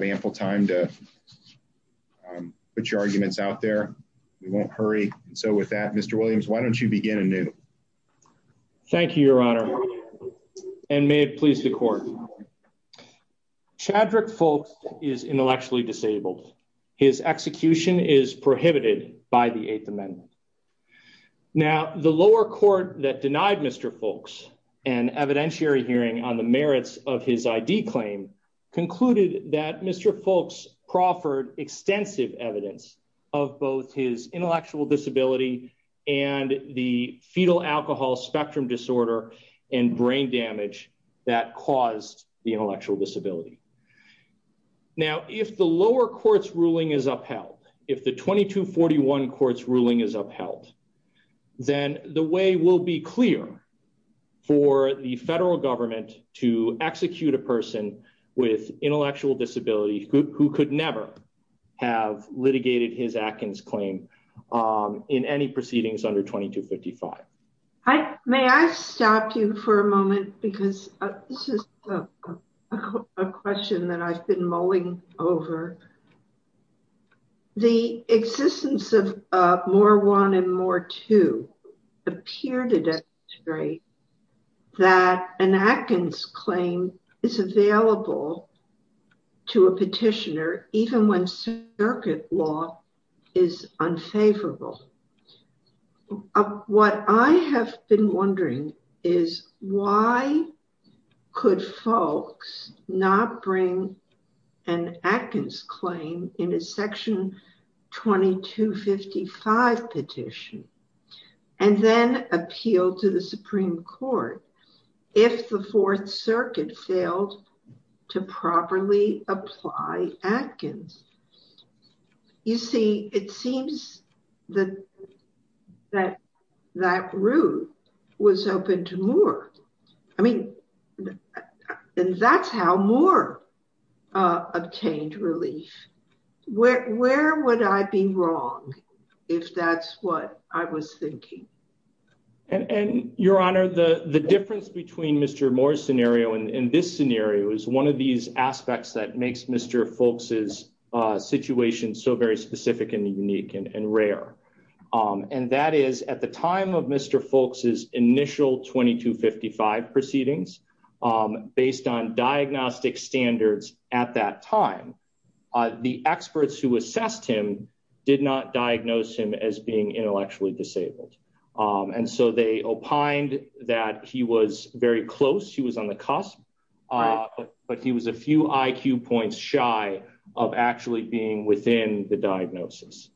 I think we have ample time to put your arguments out there. We won't hurry. So with that, Mr. Williams, why don't you begin anew? Thank you, Your Honor, and may it please the court. Chadwick Fulks is intellectually disabled. His execution is prohibited by the Eighth Amendment. Now, the lower court that denied Mr. Fulks an evidentiary hearing on the merits of his ID claim concluded that Mr. Fulks proffered extensive evidence of both his intellectual disability and the fetal alcohol spectrum disorder and brain damage that caused the intellectual disability. Now, if the lower court's ruling is upheld, if the 2241 court's ruling is upheld, then the way will be clear for the federal government to execute a person with intellectual disability who could never have litigated his Atkins claim in any proceedings under 2255. May I stop you for a moment, because this is a question that I've been mulling over. The existence of More 1 and More 2 appear to demonstrate that an Atkins claim is available to a petitioner, even when circuit law is unfavorable. What I have been wondering is why could Fulks not bring an Atkins claim in a section 2255 petition and then appeal to the Supreme Court if the Fourth Circuit failed to properly apply Atkins? You see, it seems that that route was open to More. I mean, that's how More obtained relief. Where would I be wrong if that's what I was thinking? Your Honor, the difference between Mr. More's scenario and this scenario is one of these aspects that makes Mr. Fulks' situation so very specific and unique and rare. And that is, at the time of Mr. Fulks' initial 2255 proceedings, based on diagnostic standards at that time, the experts who assessed him did not diagnose him as being intellectually disabled. And so they opined that he was very close, he was on the cusp, but he was a few IQ points shy of actually being within the diagnosis.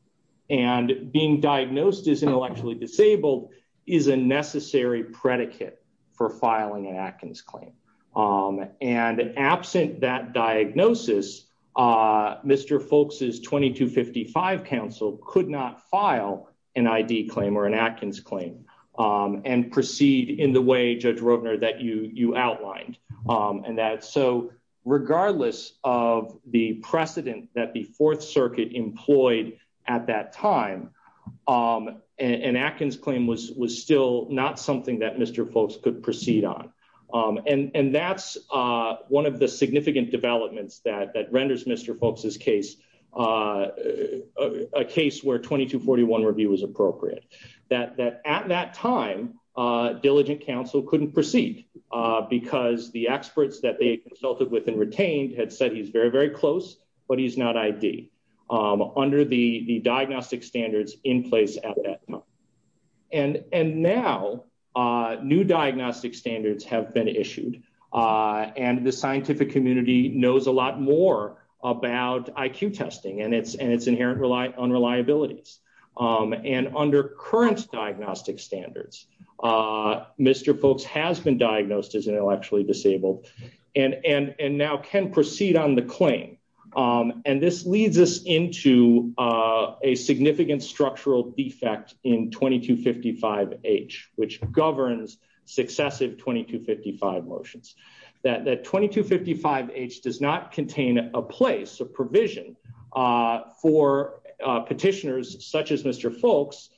And being diagnosed as intellectually disabled is a necessary predicate for filing an Atkins claim. And absent that diagnosis, Mr. Fulks' 2255 counsel could not file an ID claim or an Atkins claim and proceed in the way, Judge Roedner, that you outlined. So regardless of the precedent that the Fourth Circuit employed at that time, an Atkins claim was still not something that Mr. Fulks could proceed on. And that's one of the significant developments that renders Mr. Fulks' case a case where 2241 review was appropriate. That at that time, diligent counsel couldn't proceed because the experts that they consulted with and retained had said he's very, very close, but he's not ID under the diagnostic standards in place at that time. And now, new diagnostic standards have been issued, and the scientific community knows a lot more about IQ testing and its inherent unreliabilities. And under current diagnostic standards, Mr. Fulks has been diagnosed as intellectually disabled and now can proceed on the claim. And this leads us into a significant structural defect in 2255H, which governs successive 2255 motions. That 2255H does not contain a place, a provision, for petitioners such as Mr. Fulks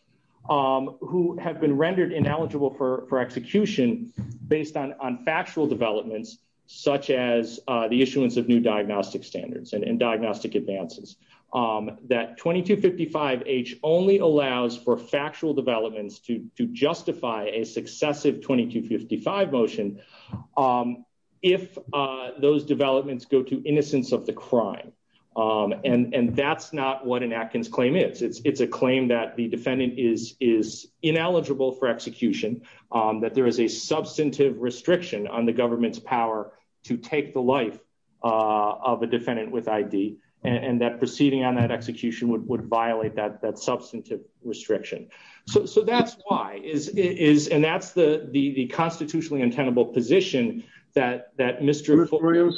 who have been rendered ineligible for execution based on factual developments such as the issuance of new diagnostic standards and diagnostic advances. That 2255H only allows for factual developments to justify a successive 2255 motion if those developments go to innocence of the crime. And that's not what an Atkins claim is. It's a claim that the defendant is ineligible for execution, that there is a substantive restriction on the government's power to take the life of a defendant with ID, and that proceeding on that execution would violate that substantive restriction. So that's why, and that's the constitutionally intendable position that Mr. Fulks... punishment or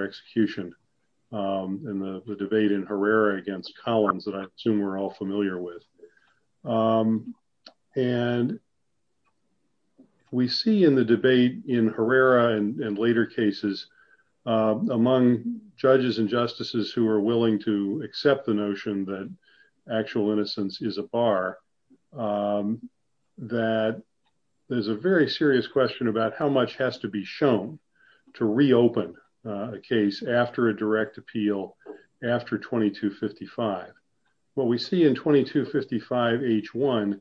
execution in the debate in Herrera against Collins that I assume we're all familiar with. And we see in the debate in Herrera and later cases among judges and justices who are willing to accept the notion that actual innocence is a bar, that there's a very serious question about how much has to be shown to reopen a case after a direct appeal after 2255. What we see in 2255H1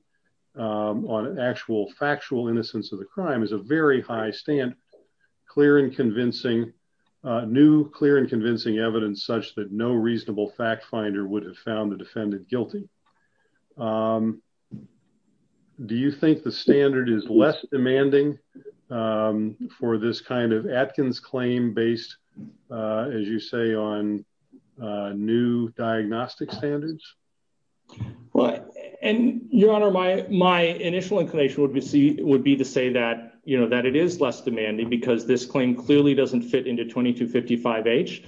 on actual factual innocence of the crime is a very high stand, clear and convincing, new clear and convincing evidence such that no reasonable fact finder would have found the defendant guilty. Do you think the standard is less demanding for this kind of Atkins claim based, as you say, on new diagnostic standards? Well, and Your Honor, my initial inclination would be to say that, you know, that it is less demanding because this claim clearly doesn't fit into 2255H.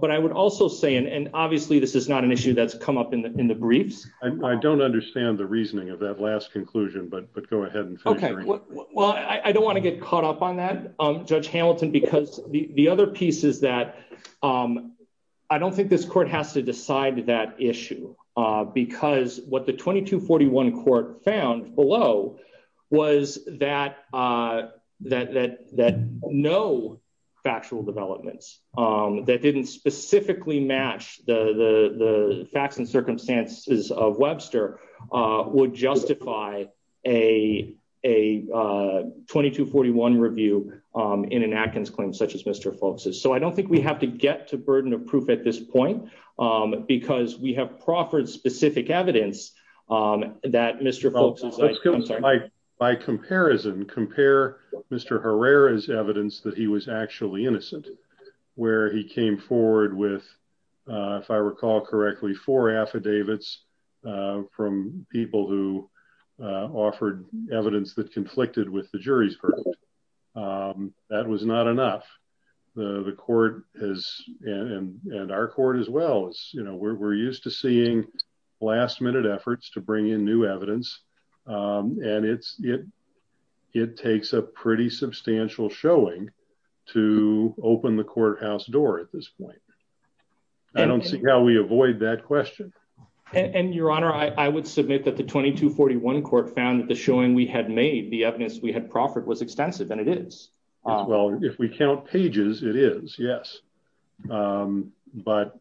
But I would also say, and obviously this is not an issue that's come up in the briefs. I don't understand the reasoning of that last conclusion, but go ahead and finish. Well, I don't want to get caught up on that, Judge Hamilton, because the other piece is that I don't think this court has to decide that issue. Because what the 2241 court found below was that no factual developments that didn't specifically match the facts and circumstances of Webster would justify a 2241 review in an Atkins claim such as Mr. Folks'. So I don't think we have to get to burden of proof at this point because we have proffered specific evidence that Mr. Folks'. By comparison, compare Mr. Herrera's evidence that he was actually innocent, where he came forward with, if I recall correctly, four affidavits from people who offered evidence that conflicted with the jury's verdict. That was not enough. The court has, and our court as well, we're used to seeing last minute efforts to bring in new evidence. And it takes a pretty substantial showing to open the courthouse door at this point. I don't see how we avoid that question. And Your Honor, I would submit that the 2241 court found that the showing we had made, the evidence we had proffered, was extensive, and it is. Well, if we count pages, it is, yes. But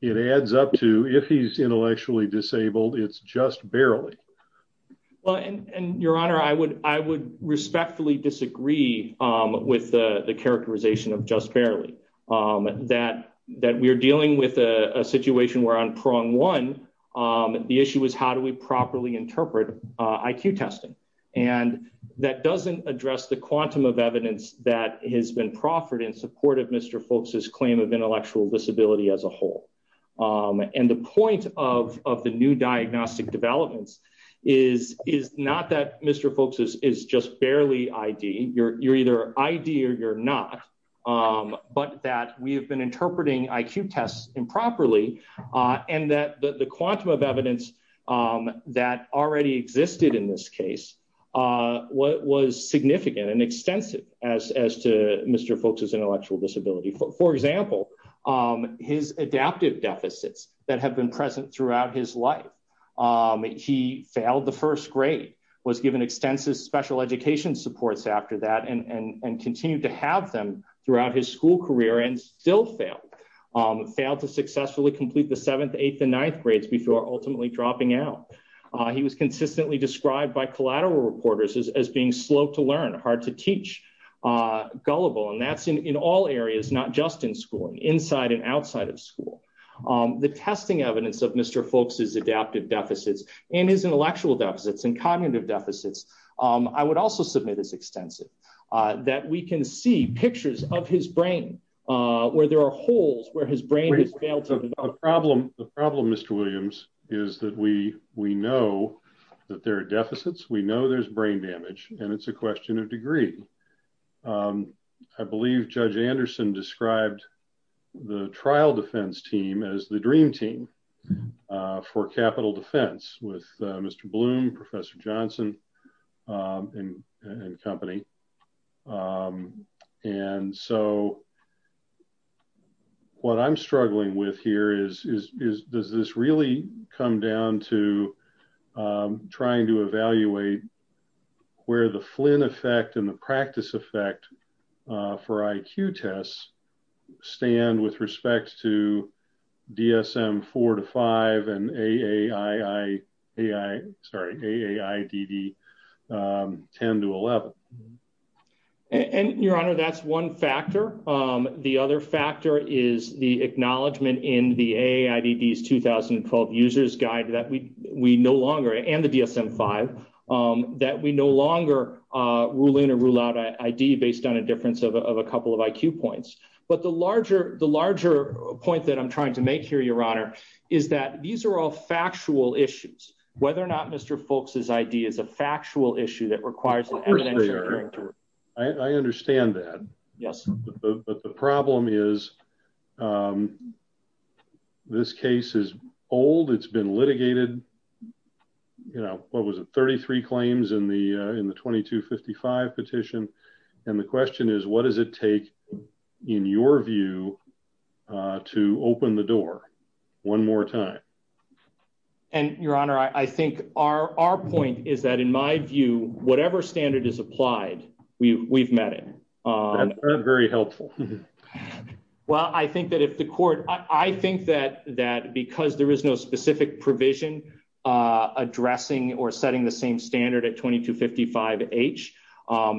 it adds up to, if he's intellectually disabled, it's just barely. Well, and Your Honor, I would respectfully disagree with the characterization of just barely. That we're dealing with a situation where on prong one, the issue is how do we properly interpret IQ testing? And that doesn't address the quantum of evidence that has been proffered in support of Mr. Folks' claim of intellectual disability as a whole. And the point of the new diagnostic developments is not that Mr. Folks is just barely ID. You're either ID or you're not. But that we have been interpreting IQ tests improperly. And that the quantum of evidence that already existed in this case was significant and extensive as to Mr. Folks' intellectual disability. For example, his adaptive deficits that have been present throughout his life. He failed the first grade, was given extensive special education supports after that, and continued to have them throughout his school career and still failed. Failed to successfully complete the seventh, eighth, and ninth grades before ultimately dropping out. He was consistently described by collateral reporters as being slow to learn, hard to teach, gullible. And that's in all areas, not just in school, inside and outside of school. The testing evidence of Mr. Folks' adaptive deficits and his intellectual deficits and cognitive deficits, I would also submit as extensive. That we can see pictures of his brain where there are holes where his brain has failed to develop. The problem, Mr. Williams, is that we know that there are deficits, we know there's brain damage, and it's a question of degree. I believe Judge Anderson described the trial defense team as the dream team for capital defense with Mr. Bloom, Professor Johnson, and company. And so, what I'm struggling with here is, does this really come down to trying to evaluate where the Flynn effect and the practice effect for IQ tests stand with respect to DSM 4 to 5 and AAI, AI, sorry, AAIDD 10 to 11? And, Your Honor, that's one factor. The other factor is the acknowledgement in the AAIDD's 2012 user's guide that we no longer, and the DSM 5, that we no longer rule in or rule out ID based on a difference of a couple of IQ points. But the larger point that I'm trying to make here, Your Honor, is that these are all factual issues. Whether or not Mr. Foulkes' ID is a factual issue that requires an evidentiary. I understand that. Yes. But the problem is, this case is old, it's been litigated, you know, what was it, 33 claims in the 2255 petition, and the question is, what does it take, in your view, to open the door one more time? And, Your Honor, I think our point is that, in my view, whatever standard is applied, we've met it. That's very helpful. Well, I think that if the court, I think that because there is no specific provision addressing or setting the same standard at 2255H,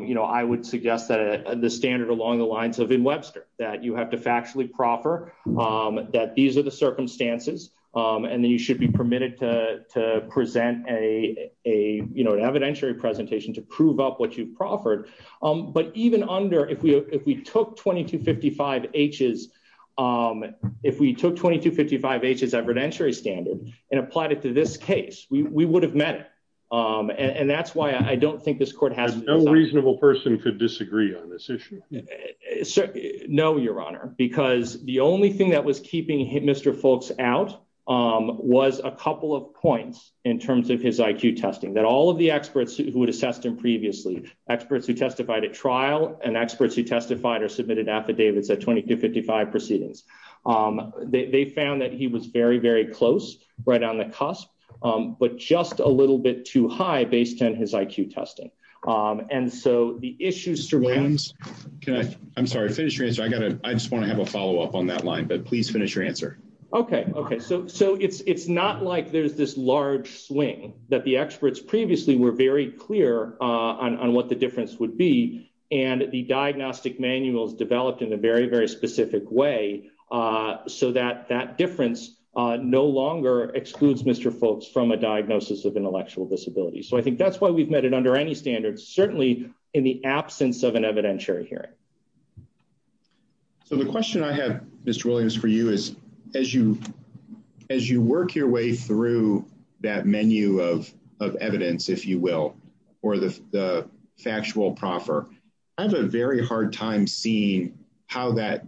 you know, I would suggest that the standard along the lines of in Webster, that you have to factually proffer that these are the circumstances. And then you should be permitted to present an evidentiary presentation to prove up what you've proffered. But even under, if we took 2255H's evidentiary standard and applied it to this case, we would have met it. And that's why I don't think this court has to decide. And no reasonable person could disagree on this issue? No, Your Honor, because the only thing that was keeping Mr. Foulkes out was a couple of points in terms of his IQ testing that all of the experts who had assessed him previously, experts who testified at trial and experts who testified or submitted affidavits at 2255 proceedings. They found that he was very, very close, right on the cusp, but just a little bit too high based on his IQ testing. And so the issue is... Mr. Williams, I'm sorry, finish your answer. I just want to have a follow up on that line, but please finish your answer. Okay. So it's not like there's this large swing that the experts previously were very clear on what the difference would be. And the diagnostic manuals developed in a very, very specific way so that that difference no longer excludes Mr. Foulkes from a diagnosis of intellectual disability. So I think that's why we've met it under any standards, certainly in the absence of an evidentiary hearing. So the question I have, Mr. Williams, for you is, as you work your way through that menu of evidence, if you will, or the factual proffer, I have a very hard time seeing how that...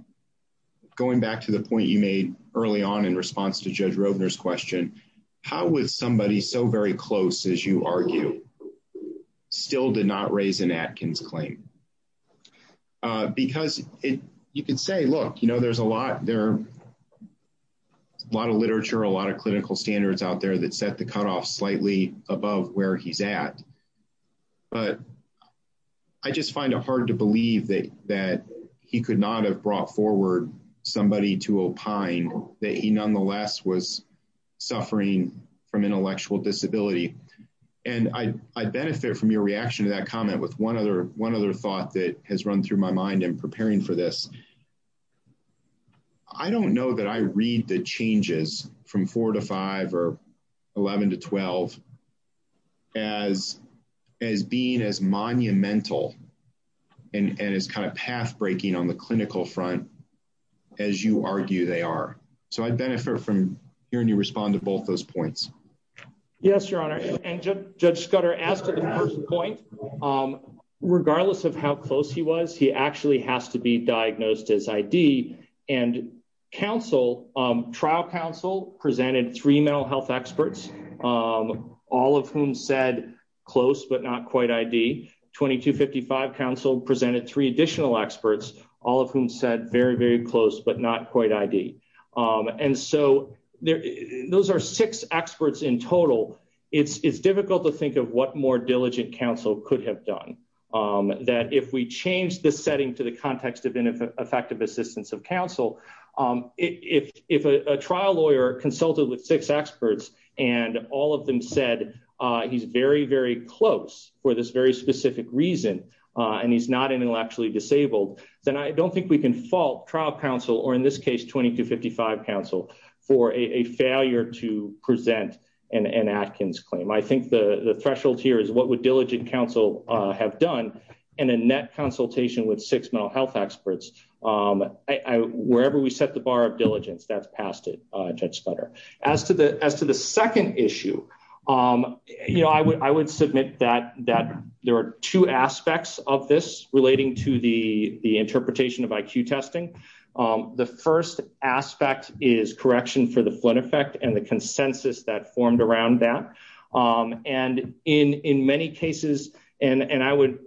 Early on in response to Judge Rovner's question, how was somebody so very close, as you argue, still did not raise an Atkins claim? Because you can say, look, there's a lot of literature, a lot of clinical standards out there that set the cutoff slightly above where he's at. But I just find it hard to believe that he could not have brought forward somebody to opine that he nonetheless was suffering from intellectual disability. And I benefit from your reaction to that comment with one other thought that has run through my mind in preparing for this. I don't know that I read the changes from 4 to 5 or 11 to 12 as being as monumental and as kind of pathbreaking on the clinical front as you argue they are. So I benefit from hearing you respond to both those points. Yes, Your Honor. And Judge Scudder, as to the first point, regardless of how close he was, he actually has to be diagnosed as ID. And trial counsel presented three mental health experts, all of whom said close but not quite ID. 2255 counsel presented three additional experts, all of whom said very, very close but not quite ID. And so those are six experts in total. It's difficult to think of what more diligent counsel could have done. That if we change the setting to the context of ineffective assistance of counsel, if a trial lawyer consulted with six experts and all of them said he's very, very close for this very specific reason, and he's not intellectually disabled, then I don't think we can fault trial counsel, or in this case 2255 counsel, for a failure to present an Atkins claim. I think the threshold here is what would diligent counsel have done in a net consultation with six mental health experts. Wherever we set the bar of diligence, that's past it, Judge Scudder. As to the second issue, I would submit that there are two aspects of this relating to the interpretation of IQ testing. The first aspect is correction for the Flynn effect and the consensus that formed around that. And in many cases, and I would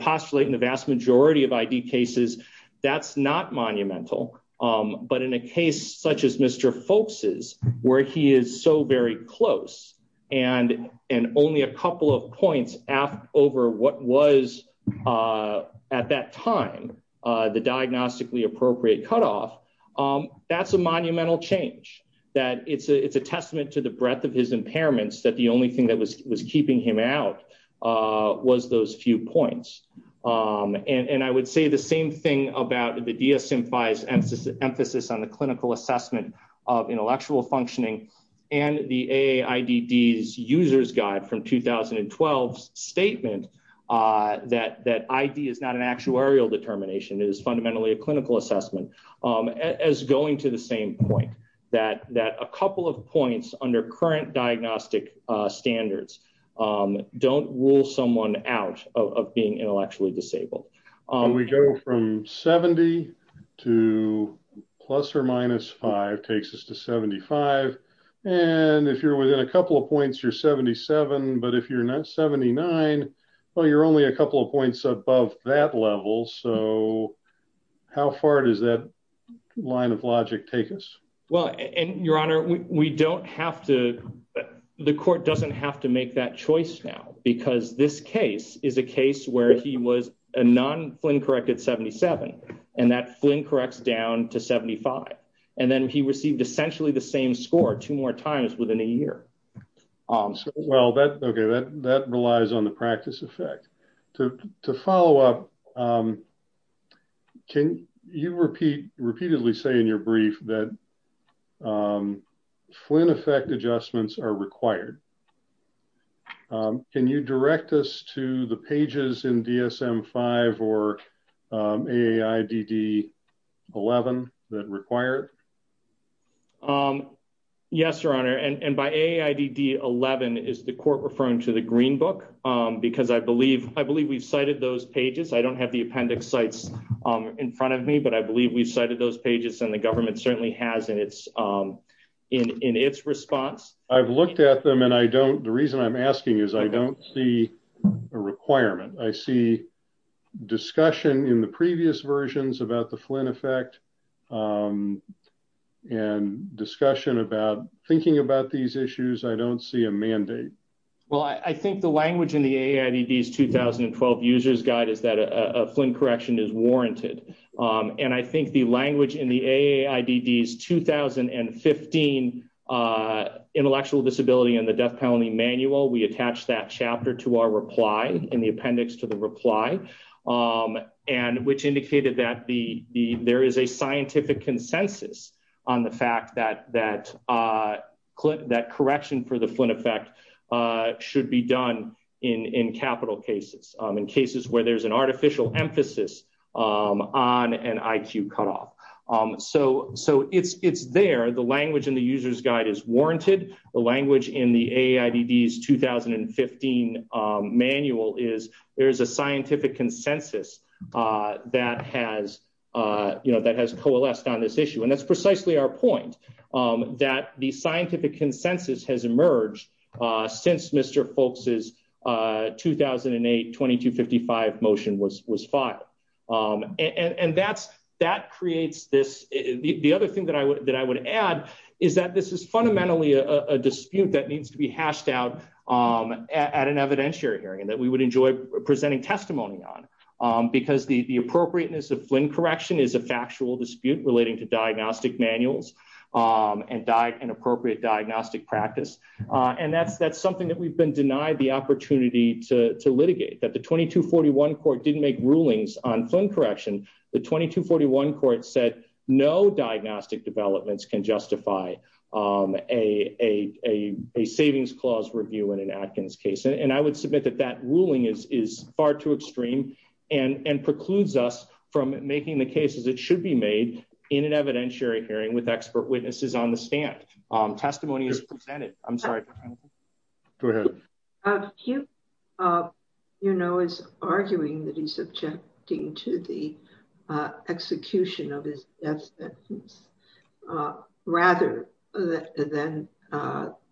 postulate in the vast majority of ID cases, that's not monumental. But in a case such as Mr. Folks' where he is so very close and only a couple of points over what was at that time the diagnostically appropriate cutoff, that's a monumental change. It's a testament to the breadth of his impairments that the only thing that was keeping him out was those few points. And I would say the same thing about the DSM-5's emphasis on the clinical assessment of intellectual functioning, and the AAIDD's user's guide from 2012's statement that ID is not an actuarial determination, it is fundamentally a clinical assessment, as going to the same point, that a couple of points under current diagnostic standards don't rule someone out of being intellectually disabled. We go from 70 to plus or minus 5 takes us to 75. And if you're within a couple of points, you're 77. But if you're not 79, well, you're only a couple of points above that level. So how far does that line of logic take us? Well, and Your Honor, we don't have to, the court doesn't have to make that choice now. Because this case is a case where he was a non-Flynn-corrected 77, and that Flynn-corrects down to 75. And then he received essentially the same score two more times within a year. Well, that, okay, that relies on the practice effect. To follow up, can you repeat, repeatedly say in your brief that Flynn effect adjustments are required? Can you direct us to the pages in DSM-5 or AAIDD 11 that require it? Yes, Your Honor, and by AAIDD 11, is the court referring to the Green Book? Because I believe we've cited those pages. I don't have the appendix sites in front of me, but I believe we've cited those pages, and the government certainly has in its response. I've looked at them, and I don't, the reason I'm asking is I don't see a requirement. I see discussion in the previous versions about the Flynn effect, and discussion about thinking about these issues. I don't see a mandate. Well, I think the language in the AAIDD's 2012 user's guide is that a Flynn correction is warranted. And I think the language in the AAIDD's 2015 intellectual disability and the death penalty manual, we attach that chapter to our reply in the appendix to the reply, which indicated that there is a scientific consensus on the fact that that correction for the Flynn effect should be done in capital cases, in cases where there's an artificial emphasis on an IQ cutoff. So it's there. The language in the user's guide is warranted. The language in the AAIDD's 2015 manual is there is a scientific consensus that has coalesced on this issue. And that's precisely our point, that the scientific consensus has emerged since Mr. Folks' 2008 2255 motion was filed. And that creates this. The other thing that I would add is that this is fundamentally a dispute that needs to be hashed out at an evidentiary hearing, and that we would enjoy presenting testimony on, because the appropriateness of Flynn correction is a factual dispute relating to diagnostic manuals and appropriate diagnostic practice. And that's something that we've been denied the opportunity to litigate, that the 2241 court didn't make rulings on Flynn correction. The 2241 court said no diagnostic developments can justify a savings clause review in an Atkins case. And I would submit that that ruling is far too extreme, and precludes us from making the cases that should be made in an evidentiary hearing with expert witnesses on the stand. Testimony is presented. I'm sorry. Go ahead. Hugh, you know, is arguing that he's objecting to the execution of his death sentence, rather than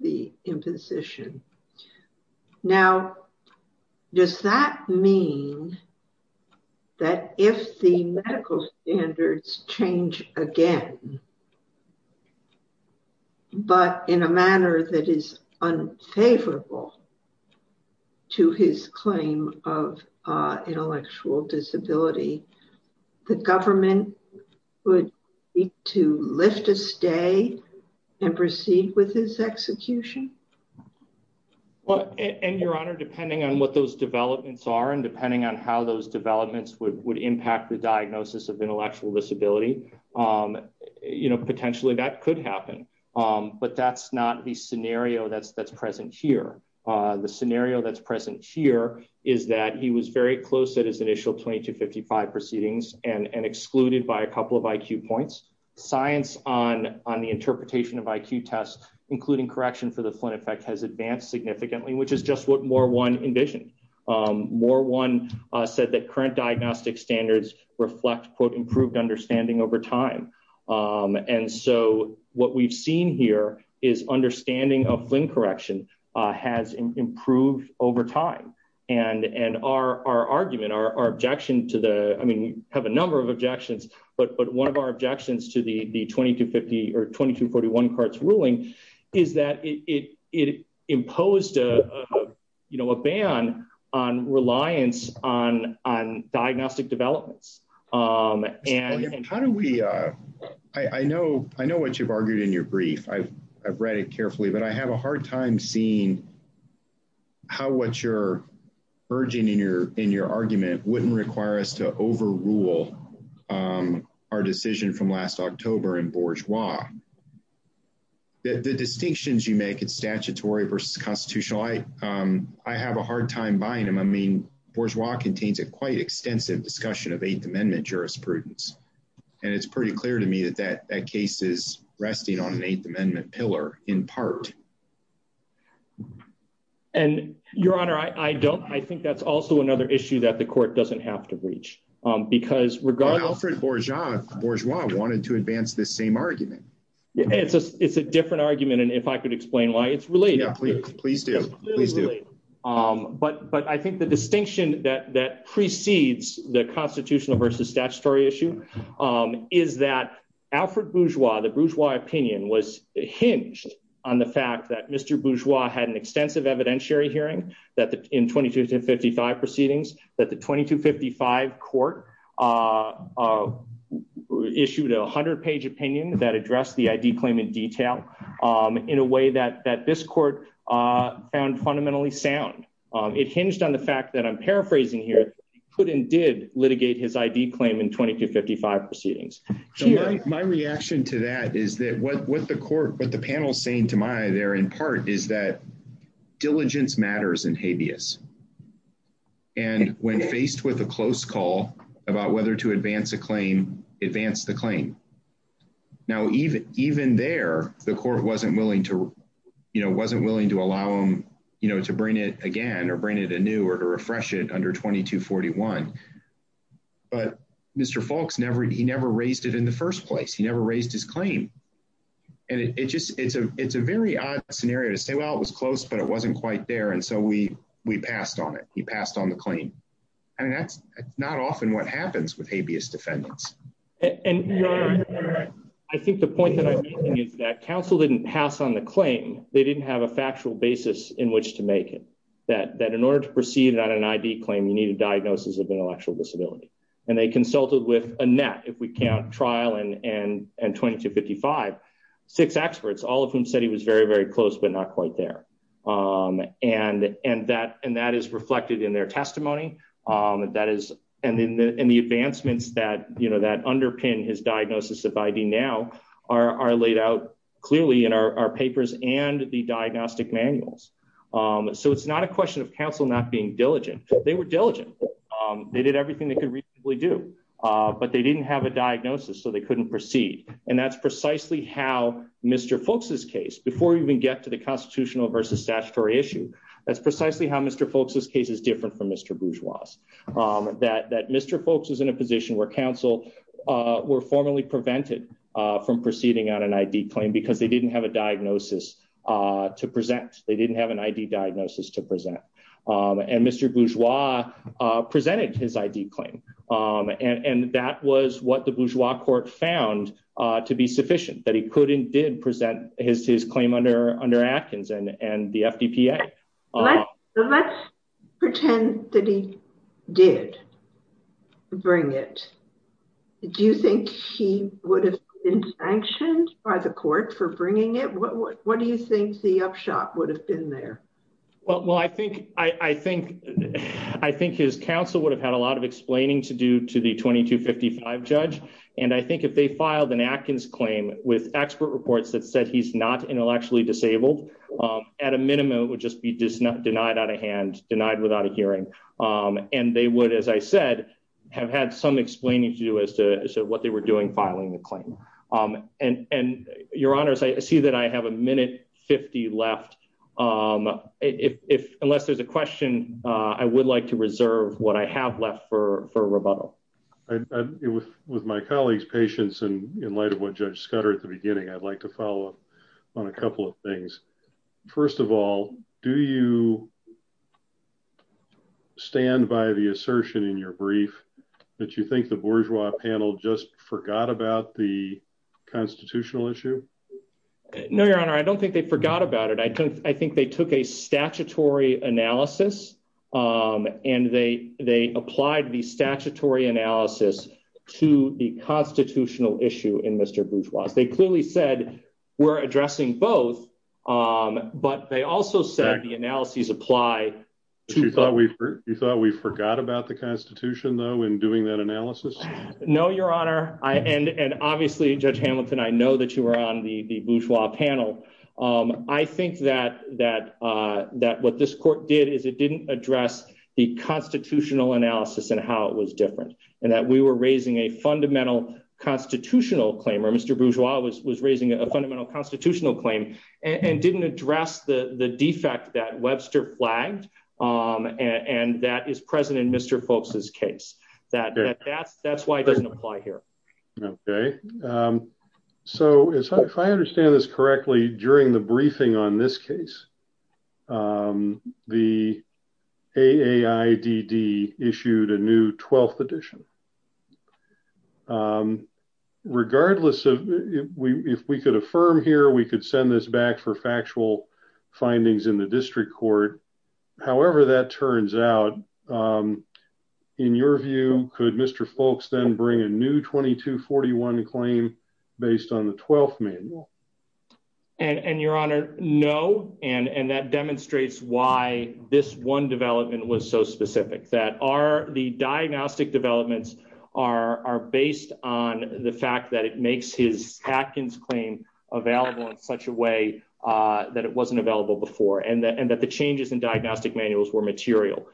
the imposition. Now, does that mean that if the medical standards change again, but in a manner that is unfavorable to his claim of intellectual disability, the government would need to lift a stay and proceed with his execution? Well, and Your Honor, depending on what those developments are, and depending on how those developments would impact the diagnosis of intellectual disability, you know, potentially that could happen. But that's not the scenario that's present here. The scenario that's present here is that he was very close at his initial 2255 proceedings and excluded by a couple of IQ points. Science on the interpretation of IQ tests, including correction for the Flynn effect, has advanced significantly, which is just what Moore one envisioned. Moore one said that current diagnostic standards reflect, quote, improved understanding over time. And so what we've seen here is understanding of Flynn correction has improved over time. And our argument, our objection to the, I mean, we have a number of objections, but one of our objections to the 2250 or 2241 Carts ruling is that it imposed, you know, a ban on reliance on diagnostic developments. How do we, I know what you've argued in your brief. I've read it carefully, but I have a hard time seeing how what you're urging in your argument wouldn't require us to overrule our decision from last October in Bourgeois. The distinctions you make, it's statutory versus constitutional. I have a hard time buying them. I mean, Bourgeois contains a quite extensive discussion of Eighth Amendment jurisprudence. And it's pretty clear to me that that case is resting on an Eighth Amendment pillar in part. And your honor, I don't. I think that's also another issue that the court doesn't have to reach because we're gone. Alfred Bourgeois wanted to advance the same argument. It's a different argument. And if I could explain why it's related. Please do. But I think the distinction that precedes the constitutional versus statutory issue is that Alfred Bourgeois, the Bourgeois opinion was hinged on the fact that Mr. Bourgeois had an extensive evidentiary hearing in 2255 proceedings, that the 2255 court issued a 100-page opinion that addressed the ID claim in detail in a way that this court found fundamentally sound. It hinged on the fact that I'm paraphrasing here, he could and did litigate his ID claim in 2255 proceedings. My reaction to that is that what the panel is saying to my there in part is that diligence matters in habeas. And when faced with a close call about whether to advance a claim, advance the claim. Now, even there, the court wasn't willing to allow him to bring it again or bring it anew or to refresh it under 2241. But Mr. Foulkes never, he never raised it in the first place. He never raised his claim. And it just, it's a very odd scenario to say, well, it was close, but it wasn't quite there. And so we passed on it. He passed on the claim. And that's not often what happens with habeas defendants. And I think the point that I'm making is that counsel didn't pass on the claim. They didn't have a factual basis in which to make it. That in order to proceed on an ID claim, you need a diagnosis of intellectual disability. And they consulted with a net, if we count trial and 2255, six experts, all of whom said he was very, very close, but not quite there. And that is reflected in their testimony. And the advancements that underpin his diagnosis of ID now are laid out clearly in our papers and the diagnostic manuals. So it's not a question of counsel not being diligent. They were diligent. They did everything they could reasonably do, but they didn't have a diagnosis, so they couldn't proceed. And that's precisely how Mr. Foulkes' case, before we even get to the constitutional versus statutory issue, that's precisely how Mr. Foulkes' case is different from Mr. Bourgeois'. That Mr. Foulkes is in a position where counsel were formally prevented from proceeding on an ID claim because they didn't have a diagnosis to present. They didn't have an ID diagnosis to present. And Mr. Bourgeois presented his ID claim. And that was what the Bourgeois court found to be sufficient, that he could and did present his claim under Atkins and the FDPA. Let's pretend that he did bring it. Do you think he would have been sanctioned by the court for bringing it? What do you think the upshot would have been there? Well, I think his counsel would have had a lot of explaining to do to the 2255 judge. And I think if they filed an Atkins claim with expert reports that said he's not intellectually disabled, at a minimum, it would just be denied out of hand, denied without a hearing. And they would, as I said, have had some explaining to do as to what they were doing filing the claim. And your honors, I see that I have a minute 50 left. If unless there's a question, I would like to reserve what I have left for rebuttal. With my colleagues patience and in light of what Judge Scudder at the beginning, I'd like to follow up on a couple of things. First of all, do you stand by the assertion in your brief that you think the bourgeois panel just forgot about the constitutional issue? No, your honor, I don't think they forgot about it. I think they took a statutory analysis and they applied the statutory analysis to the constitutional issue in Mr. Bourgeois. They clearly said we're addressing both, but they also said the analyses apply. You thought we forgot about the Constitution, though, in doing that analysis? No, your honor. And obviously, Judge Hamilton, I know that you were on the bourgeois panel. I think that what this court did is it didn't address the constitutional analysis and how it was different and that we were raising a fundamental constitutional claim or Mr. Bourgeois was raising a fundamental constitutional claim and didn't address the defect that Webster flagged. And that is present in Mr. Folks's case. That's why it doesn't apply here. Okay. So if I understand this correctly, during the briefing on this case, the AAIDD issued a new 12th edition. Regardless of if we could affirm here, we could send this back for factual findings in the district court. However, that turns out, in your view, could Mr. Folks then bring a new 2241 claim based on the 12th manual? And your honor, no. And that demonstrates why this one development was so specific. The diagnostic developments are based on the fact that it makes his Atkins claim available in such a way that it wasn't available before and that the changes in diagnostic manuals were material.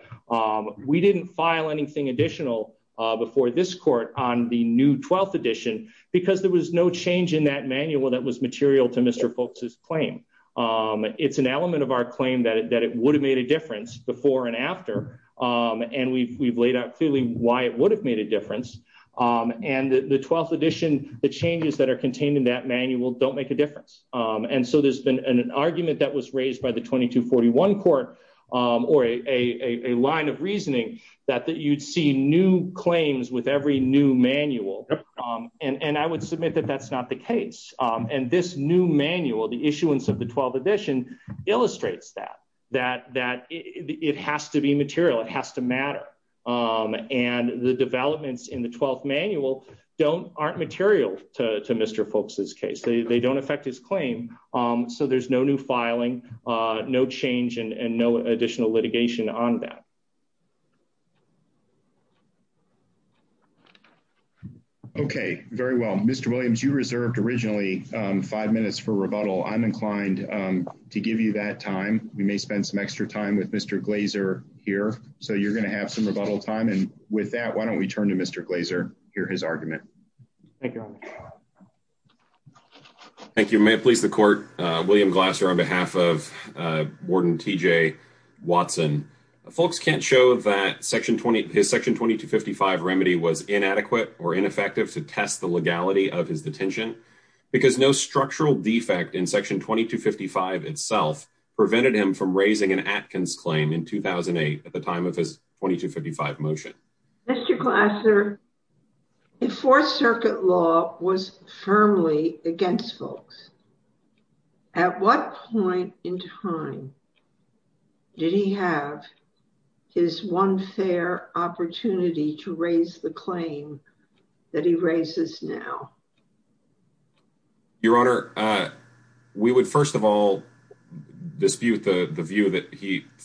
We didn't file anything additional before this court on the new 12th edition because there was no change in that manual that was material to Mr. Folks's claim. It's an element of our claim that it would have made a difference before and after. And we've laid out clearly why it would have made a difference. And the 12th edition, the changes that are contained in that manual don't make a difference. And so there's been an argument that was raised by the 2241 court or a line of reasoning that you'd see new claims with every new manual. And I would submit that that's not the case. And this new manual, the issuance of the 12th edition, illustrates that. That it has to be material. It has to matter. And the developments in the 12th manual aren't material to Mr. Folks's case. They don't affect his claim. So there's no new filing, no change and no additional litigation on that. OK, very well, Mr. Williams, you reserved originally five minutes for rebuttal. I'm inclined to give you that time. We may spend some extra time with Mr. Glazer here. So you're going to have some rebuttal time. And with that, why don't we turn to Mr. Glazer, hear his argument. Thank you. May it please the court. William Glazer on behalf of Warden T.J. Watson. Folks can't show that his Section 2255 remedy was inadequate or ineffective to test the legality of his detention. Because no structural defect in Section 2255 itself prevented him from raising an Atkins claim in 2008 at the time of his 2255 motion. Mr. Glazer, the Fourth Circuit law was firmly against Folks. At what point in time did he have his one fair opportunity to raise the claim that he raises now? Your Honor, we would first of all dispute the view that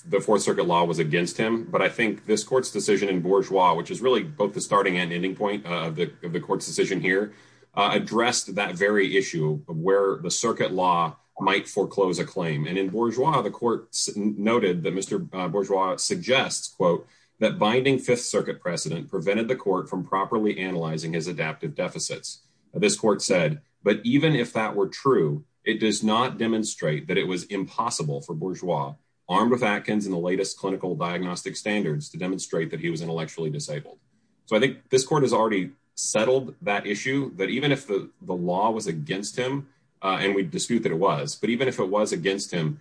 the Fourth Circuit law was against him. But I think this court's decision in Bourgeois, which is really both the starting and ending point of the court's decision here, addressed that very issue of where the circuit law might foreclose a claim. And in Bourgeois, the court noted that Mr. Bourgeois suggests, quote, that binding Fifth Circuit precedent prevented the court from properly analyzing his adaptive deficits. This court said, but even if that were true, it does not demonstrate that it was impossible for Bourgeois, armed with Atkins in the latest clinical diagnostic standards, to demonstrate that he was intellectually disabled. So I think this court has already settled that issue, that even if the law was against him, and we dispute that it was, but even if it was against him,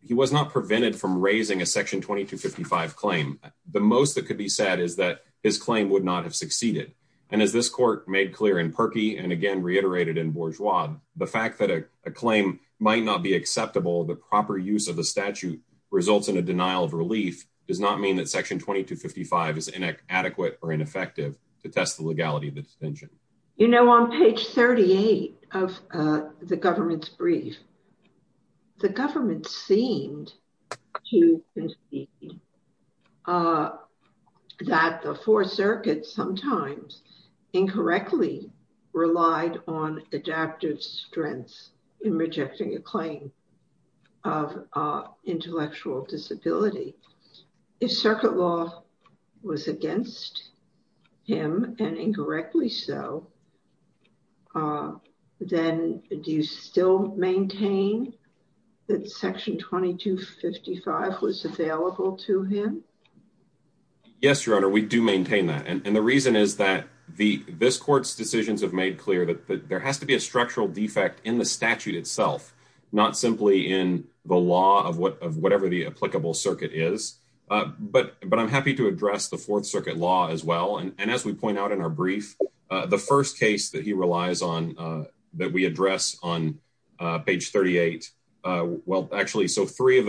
he was not prevented from raising a Section 2255 claim. The most that could be said is that his claim would not have succeeded. And as this court made clear in Perki, and again reiterated in Bourgeois, the fact that a claim might not be acceptable, the proper use of the statute results in a denial of relief, does not mean that Section 2255 is inadequate or ineffective to test the legality of the distinction. You know, on page 38 of the government's brief, the government seemed to concede that the Fourth Circuit sometimes incorrectly relied on adaptive strengths in rejecting a claim of intellectual disability. If Circuit Law was against him, and incorrectly so, then do you still maintain that Section 2255 was available to him? Yes, Your Honor, we do maintain that. And the reason is that this court's decisions have made clear that there has to be a structural defect in the statute itself, not simply in the law of whatever the applicable circuit is. But I'm happy to address the Fourth Circuit law as well. And as we point out in our brief, the first case that he relies on, that we address on page 38, well, actually, so three of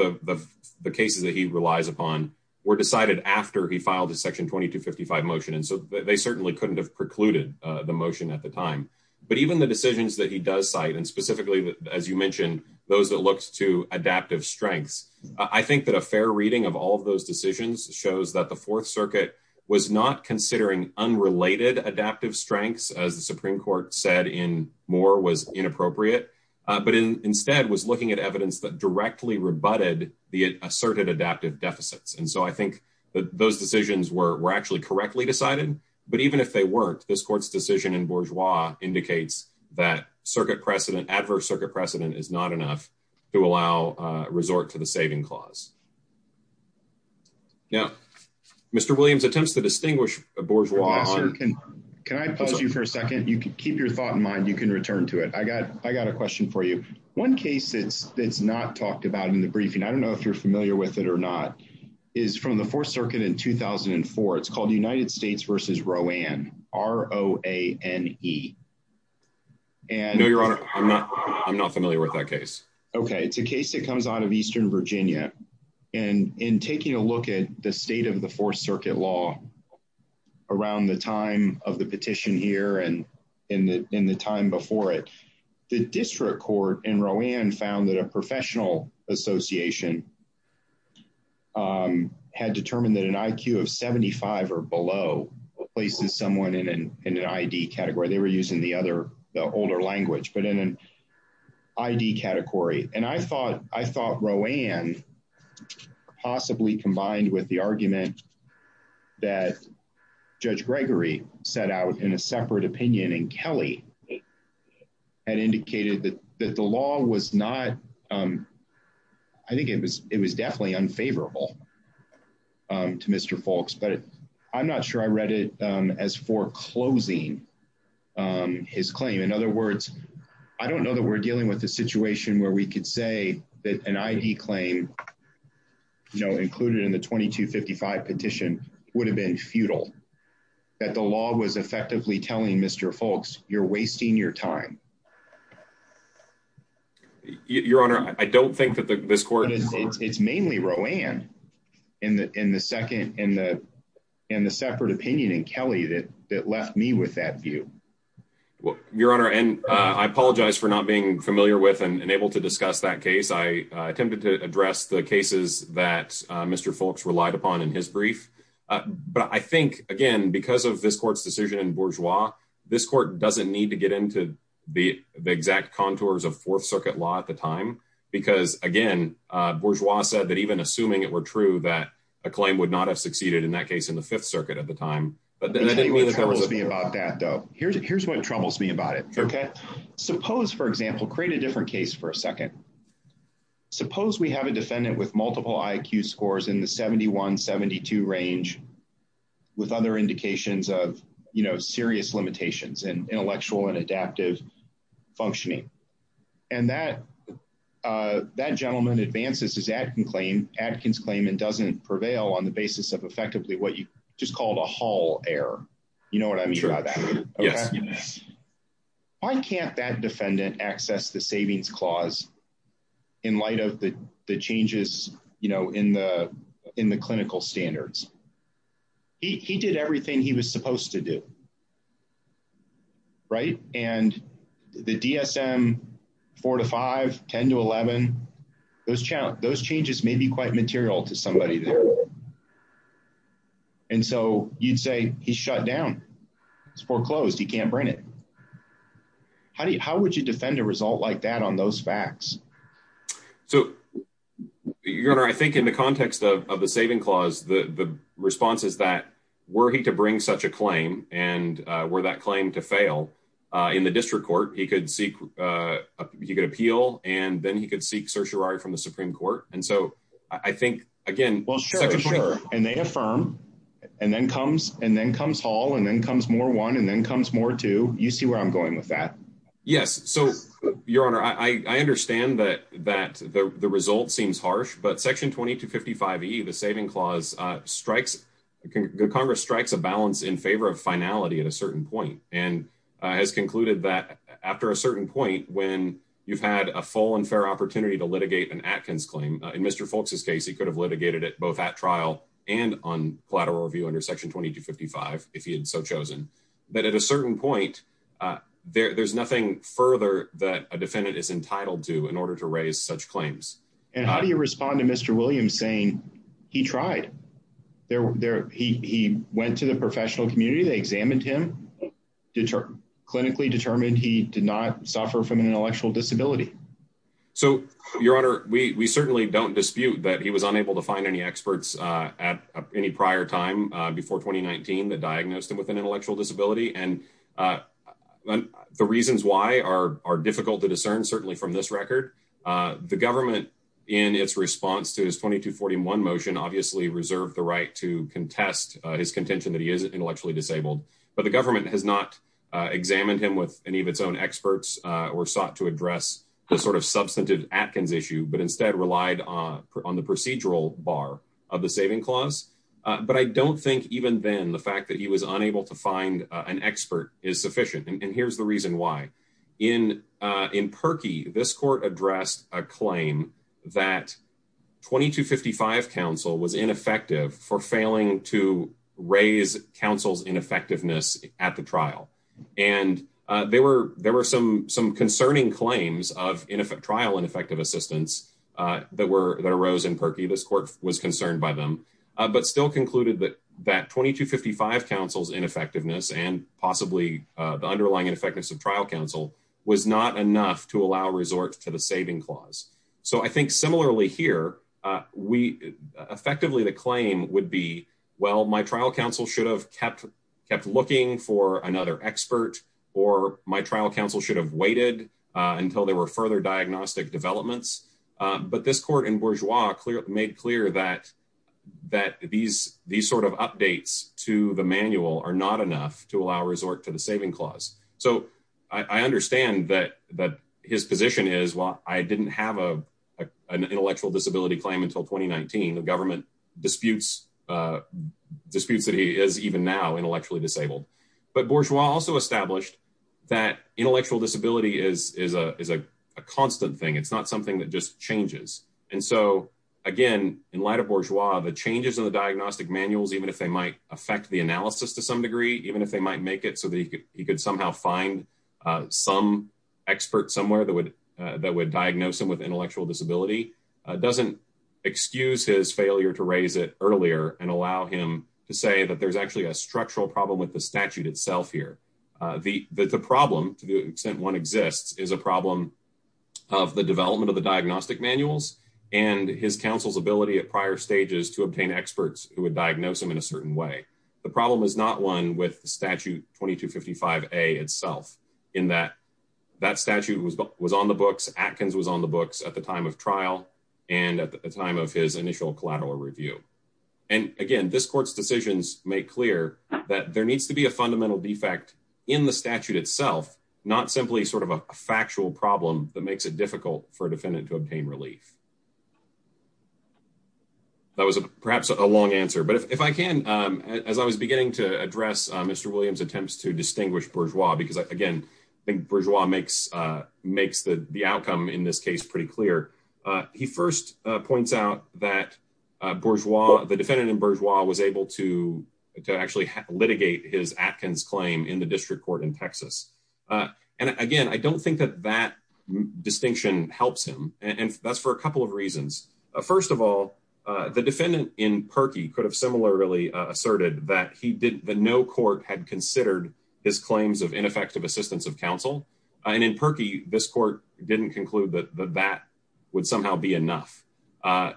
the cases that he relies upon were decided after he filed a Section 2255 motion. And so they certainly couldn't have precluded the motion at the time. But even the decisions that he does cite, and specifically, as you mentioned, those that looked to adaptive strengths, I think that a fair reading of all of those decisions shows that the Fourth Circuit was not considering unrelated adaptive strengths, as the Supreme Court said in Moore was inappropriate, but instead was looking at evidence that directly rebutted the asserted adaptive deficits. And so I think that those decisions were actually correctly decided. But even if they weren't, this court's decision in bourgeois indicates that circuit precedent, adverse circuit precedent is not enough to allow resort to the saving clause. Now, Mr. Williams attempts to distinguish a bourgeois. Can I pause you for a second, you can keep your thought in mind, you can return to it. I got I got a question for you. One case it's it's not talked about in the briefing, I don't know if you're familiar with it or not, is from the Fourth Circuit in 2004. It's called United States versus Rowan, R-O-A-N-E. And your honor, I'm not I'm not familiar with that case. Okay, it's a case that comes out of Eastern Virginia. And in taking a look at the state of the Fourth Circuit law, around the time of the petition here and in the in the time before it, the district court in Rowan found that a professional association had determined that an IQ of 75 or below places someone in an ID category. They were using the other the older language, but in an ID category. And I thought I thought Rowan possibly combined with the argument that Judge Gregory set out in a separate opinion and Kelly. And indicated that that the law was not. I think it was it was definitely unfavorable. To Mr. Folks, but I'm not sure I read it as foreclosing his claim. In other words, I don't know that we're dealing with a situation where we could say that an ID claim. No included in the 2255 petition would have been futile that the law was effectively telling Mr. Folks, you're wasting your time. Your honor, I don't think that this court is it's mainly Rowan in the in the second in the in the separate opinion and Kelly that that left me with that view. Well, your honor, and I apologize for not being familiar with and able to discuss that case. I attempted to address the cases that Mr. Folks relied upon in his brief. But I think, again, because of this court's decision in Bourgeois, this court doesn't need to get into the exact contours of Fourth Circuit law at the time. Because, again, Bourgeois said that even assuming it were true that a claim would not have succeeded in that case in the Fifth Circuit at the time. But then I didn't want to be about that, though. Here's here's what troubles me about it. OK, suppose, for example, create a different case for a second. Suppose we have a defendant with multiple IQ scores in the 71 72 range with other indications of serious limitations and intellectual and adaptive functioning. And that that gentleman advances his acting claim, Adkins claim and doesn't prevail on the basis of effectively what you just called a whole error. You know what I mean? Yes. Why can't that defendant access the savings clause in light of the changes in the in the clinical standards? He did everything he was supposed to do. Right. And the DSM four to five, 10 to 11, those those changes may be quite material to somebody. And so you'd say he shut down. It's foreclosed. He can't bring it. How do you how would you defend a result like that on those facts? So, Your Honor, I think in the context of the saving clause, the response is that were he to bring such a claim and were that claim to fail in the district court, he could seek he could appeal and then he could seek certiorari from the Supreme Court. And so I think, again, well, sure, sure. And they affirm and then comes and then comes Hall and then comes more one and then comes more to you see where I'm going with that. Yes. So, Your Honor, I understand that that the result seems harsh. But Section 20 to 55, the saving clause strikes. Congress strikes a balance in favor of finality at a certain point and has concluded that after a certain point, when you've had a full and fair opportunity to litigate an Atkins claim in Mr. trial and on collateral review under Section 20 to 55, if he had so chosen, that at a certain point, there's nothing further that a defendant is entitled to in order to raise such claims. And how do you respond to Mr. Williams saying he tried there? He went to the professional community. They examined him to clinically determined he did not suffer from an intellectual disability. So, Your Honor, we certainly don't dispute that he was unable to find any experts at any prior time before 2019 that diagnosed him with an intellectual disability. And the reasons why are are difficult to discern, certainly from this record. The government in its response to his 20 to 41 motion obviously reserved the right to contest his contention that he is intellectually disabled. But the government has not examined him with any of its own experts or sought to address the sort of substantive Atkins issue, but instead relied on the procedural bar of the saving clause. But I don't think even then the fact that he was unable to find an expert is sufficient. And here's the reason why. In in Perkey, this court addressed a claim that 20 to 55 counsel was ineffective for failing to raise counsel's ineffectiveness at the trial. And there were there were some some concerning claims of in effect trial and effective assistance that were that arose in Perkey. This court was concerned by them, but still concluded that that 20 to 55 counsel's ineffectiveness and possibly the underlying ineffectiveness of trial counsel was not enough to allow resort to the saving clause. So I think similarly here we effectively the claim would be, well, my trial counsel should have kept kept looking for another expert or my trial counsel should have waited until there were further diagnostic developments. But this court in Bourgeois made clear that that these these sort of updates to the manual are not enough to allow resort to the saving clause. So I understand that that his position is, well, I didn't have a an intellectual disability claim until 2019. The government disputes disputes that he is even now intellectually disabled. But Bourgeois also established that intellectual disability is is a is a constant thing. It's not something that just changes. And so, again, in light of Bourgeois, the changes in the diagnostic manuals, even if they might affect the analysis to some degree, even if they might make it so that you could somehow find some expert somewhere that would that would diagnose him with intellectual disability, doesn't excuse his failure to raise it earlier and allow him to say that there's actually a structural problem with the statute itself here. The problem, to the extent one exists, is a problem of the development of the diagnostic manuals and his counsel's ability at prior stages to obtain experts who would diagnose him in a certain way. The problem is not one with the statute 2255A itself in that that statute was was on the books. Atkins was on the books at the time of trial and at the time of his initial collateral review. And again, this court's decisions make clear that there needs to be a fundamental defect in the statute itself, not simply sort of a factual problem that makes it difficult for a defendant to obtain relief. That was perhaps a long answer, but if I can, as I was beginning to address Mr. Williams attempts to distinguish Bourgeois, because, again, Bourgeois makes makes the outcome in this case pretty clear. He first points out that Bourgeois, the defendant in Bourgeois, was able to actually litigate his Atkins claim in the district court in Texas. And again, I don't think that that distinction helps him. And that's for a couple of reasons. First of all, the defendant in Perkey could have similarly asserted that he did that no court had considered his claims of ineffective assistance of counsel. And in Perkey, this court didn't conclude that that would somehow be enough.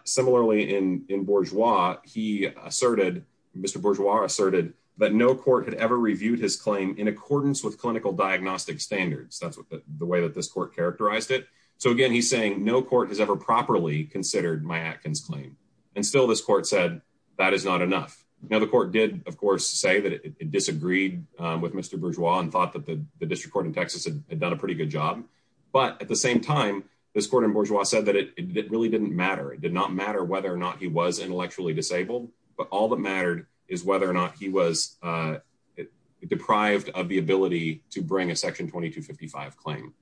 Similarly, in in Bourgeois, he asserted Mr. Bourgeois asserted that no court had ever reviewed his claim in accordance with clinical diagnostic standards. That's the way that this court characterized it. So, again, he's saying no court has ever properly considered my Atkins claim. And still, this court said that is not enough. Now, the court did, of course, say that it disagreed with Mr. Bourgeois and thought that the district court in Texas had done a pretty good job. But at the same time, this court in Bourgeois said that it really didn't matter. It did not matter whether or not he was intellectually disabled. But all that mattered is whether or not he was deprived of the ability to bring a Section 2255 claim.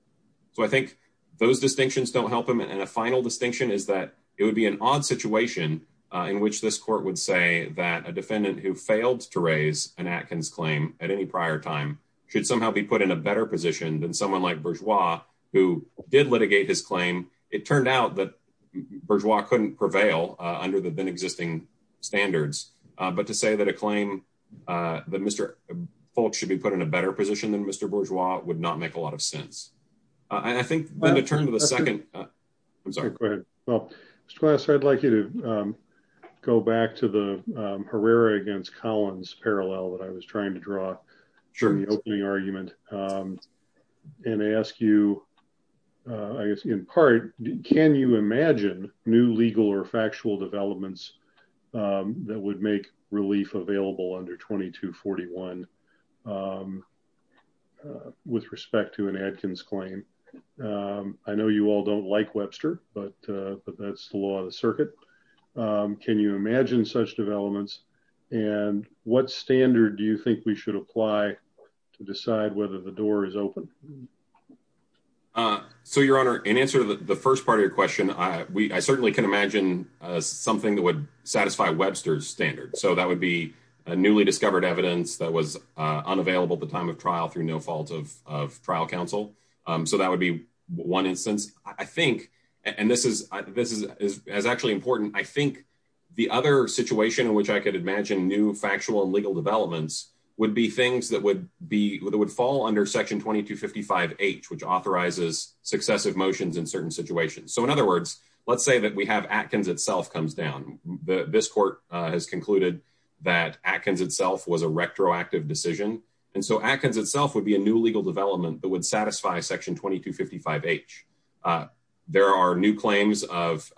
So I think those distinctions don't help him. And a final distinction is that it would be an odd situation in which this court would say that a defendant who failed to raise an Atkins claim at any prior time should somehow be put in a better position than someone like Bourgeois, who did litigate his claim. It turned out that Bourgeois couldn't prevail under the then existing standards. But to say that a claim that Mr. Polk should be put in a better position than Mr. Bourgeois would not make a lot of sense. I think I'm going to turn to the second. Go ahead. Well, Mr. Glasser, I'd like you to go back to the Herrera against Collins parallel that I was trying to draw from the opening argument and ask you, in part, can you imagine new legal or factual developments that would make relief available under 2241 with respect to an Atkins claim? I know you all don't like Webster, but that's the law of the circuit. Can you imagine such developments? And what standard do you think we should apply to decide whether the door is open? So, Your Honor, in answer to the first part of your question, I certainly can imagine something that would satisfy Webster's standard. So that would be a newly discovered evidence that was unavailable at the time of trial through no fault of trial counsel. So that would be one instance, I think. And this is this is actually important. I think the other situation in which I could imagine new factual and legal developments would be things that would be that would fall under Section 2255H, which authorizes successive motions in certain situations. So, in other words, let's say that we have Atkins itself comes down. This court has concluded that Atkins itself was a retroactive decision. And so Atkins itself would be a new legal development that would satisfy Section 2255H. There are new claims of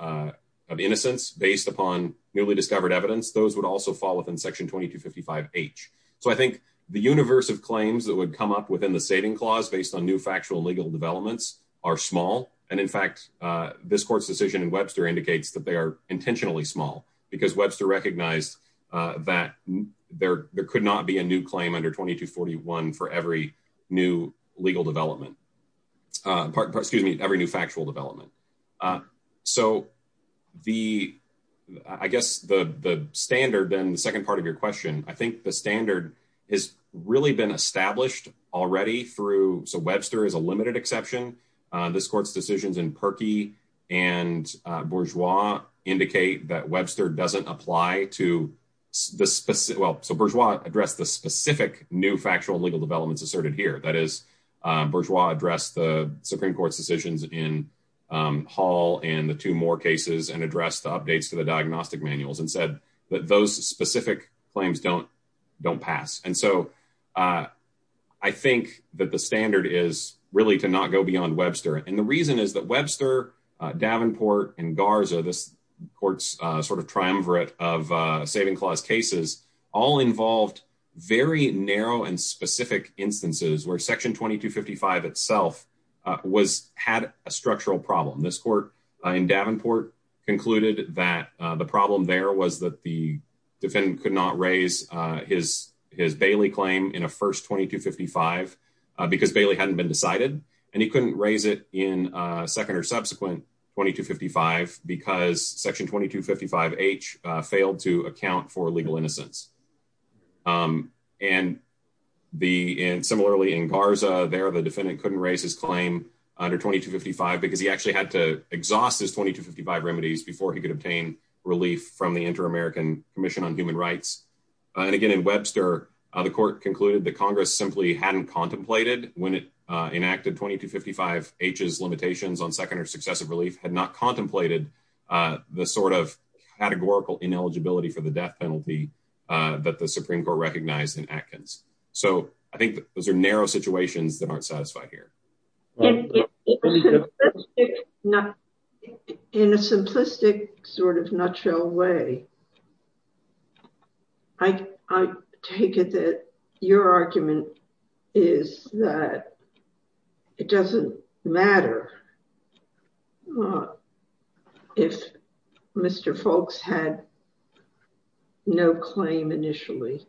innocence based upon newly discovered evidence. Those would also fall within Section 2255H. So I think the universe of claims that would come up within the saving clause based on new factual legal developments are small. And in fact, this court's decision in Webster indicates that they are intentionally small because Webster recognized that there could not be a new claim under 2241 for every new legal development. Excuse me, every new factual development. So the I guess the standard and the second part of your question, I think the standard is really been established already through Webster is a limited exception. This court's decisions in Perkey and Bourgeois indicate that Webster doesn't apply to this. Well, so Bourgeois addressed the specific new factual legal developments asserted here. That is, Bourgeois addressed the Supreme Court's decisions in Hall and the two more cases and addressed the updates to the diagnostic manuals and said that those specific claims don't don't pass. And so I think that the standard is really to not go beyond Webster. And the reason is that Webster, Davenport and Garza, this court's sort of triumvirate of saving clause cases, all involved very narrow and specific instances where Section 2255 itself was had a structural problem. This court in Davenport concluded that the problem there was that the defendant could not raise his his Bailey claim in a first 2255 because Bailey hadn't been decided and he couldn't raise it in a second or subsequent 2255 because Section 2255 H failed to account for legal innocence. And the similarly in Garza there, the defendant couldn't raise his claim under 2255 because he actually had to exhaust his 2255 remedies before he could obtain relief from the Inter-American Commission on Human Rights. And again, in Webster, the court concluded that Congress simply hadn't contemplated when it enacted 2255 H's limitations on second or successive relief had not contemplated the sort of categorical ineligibility for the death penalty that the Supreme Court recognized in Atkins. So I think those are narrow situations that aren't satisfied here. In a simplistic sort of nutshell way, I take it that your argument is that it doesn't matter if Mr. Folks had no claim initially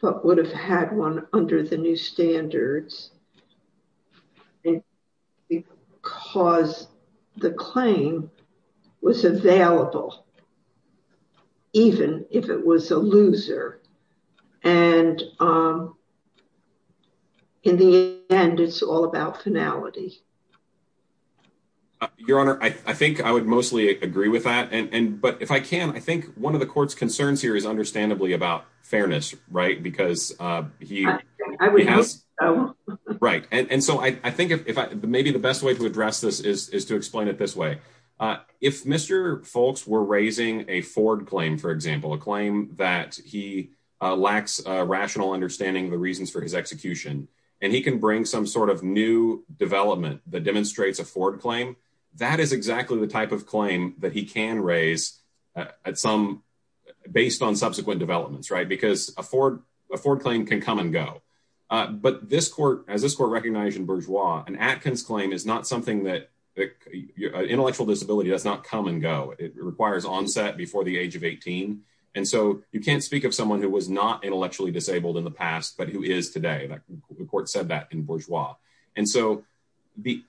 but would have had one under the new standards. Because the claim was available, even if it was a loser. And in the end, it's all about finality. Your Honor, I think I would mostly agree with that. But if I can, I think one of the court's concerns here is understandably about fairness, right? Because he has... I would hope so. Right. And so I think maybe the best way to address this is to explain it this way. If Mr. Folks were raising a Ford claim, for example, a claim that he lacks rational understanding of the reasons for his execution, and he can bring some sort of new development that demonstrates a Ford claim, that is exactly the type of claim that he can raise at some... Based on subsequent developments, right? Because a Ford claim can come and go. But as this court recognized in Bourgeois, an Atkins claim is not something that... Intellectual disability does not come and go. It requires onset before the age of 18. And so you can't speak of someone who was not intellectually disabled in the past, but who is today. The court said that in Bourgeois. And so the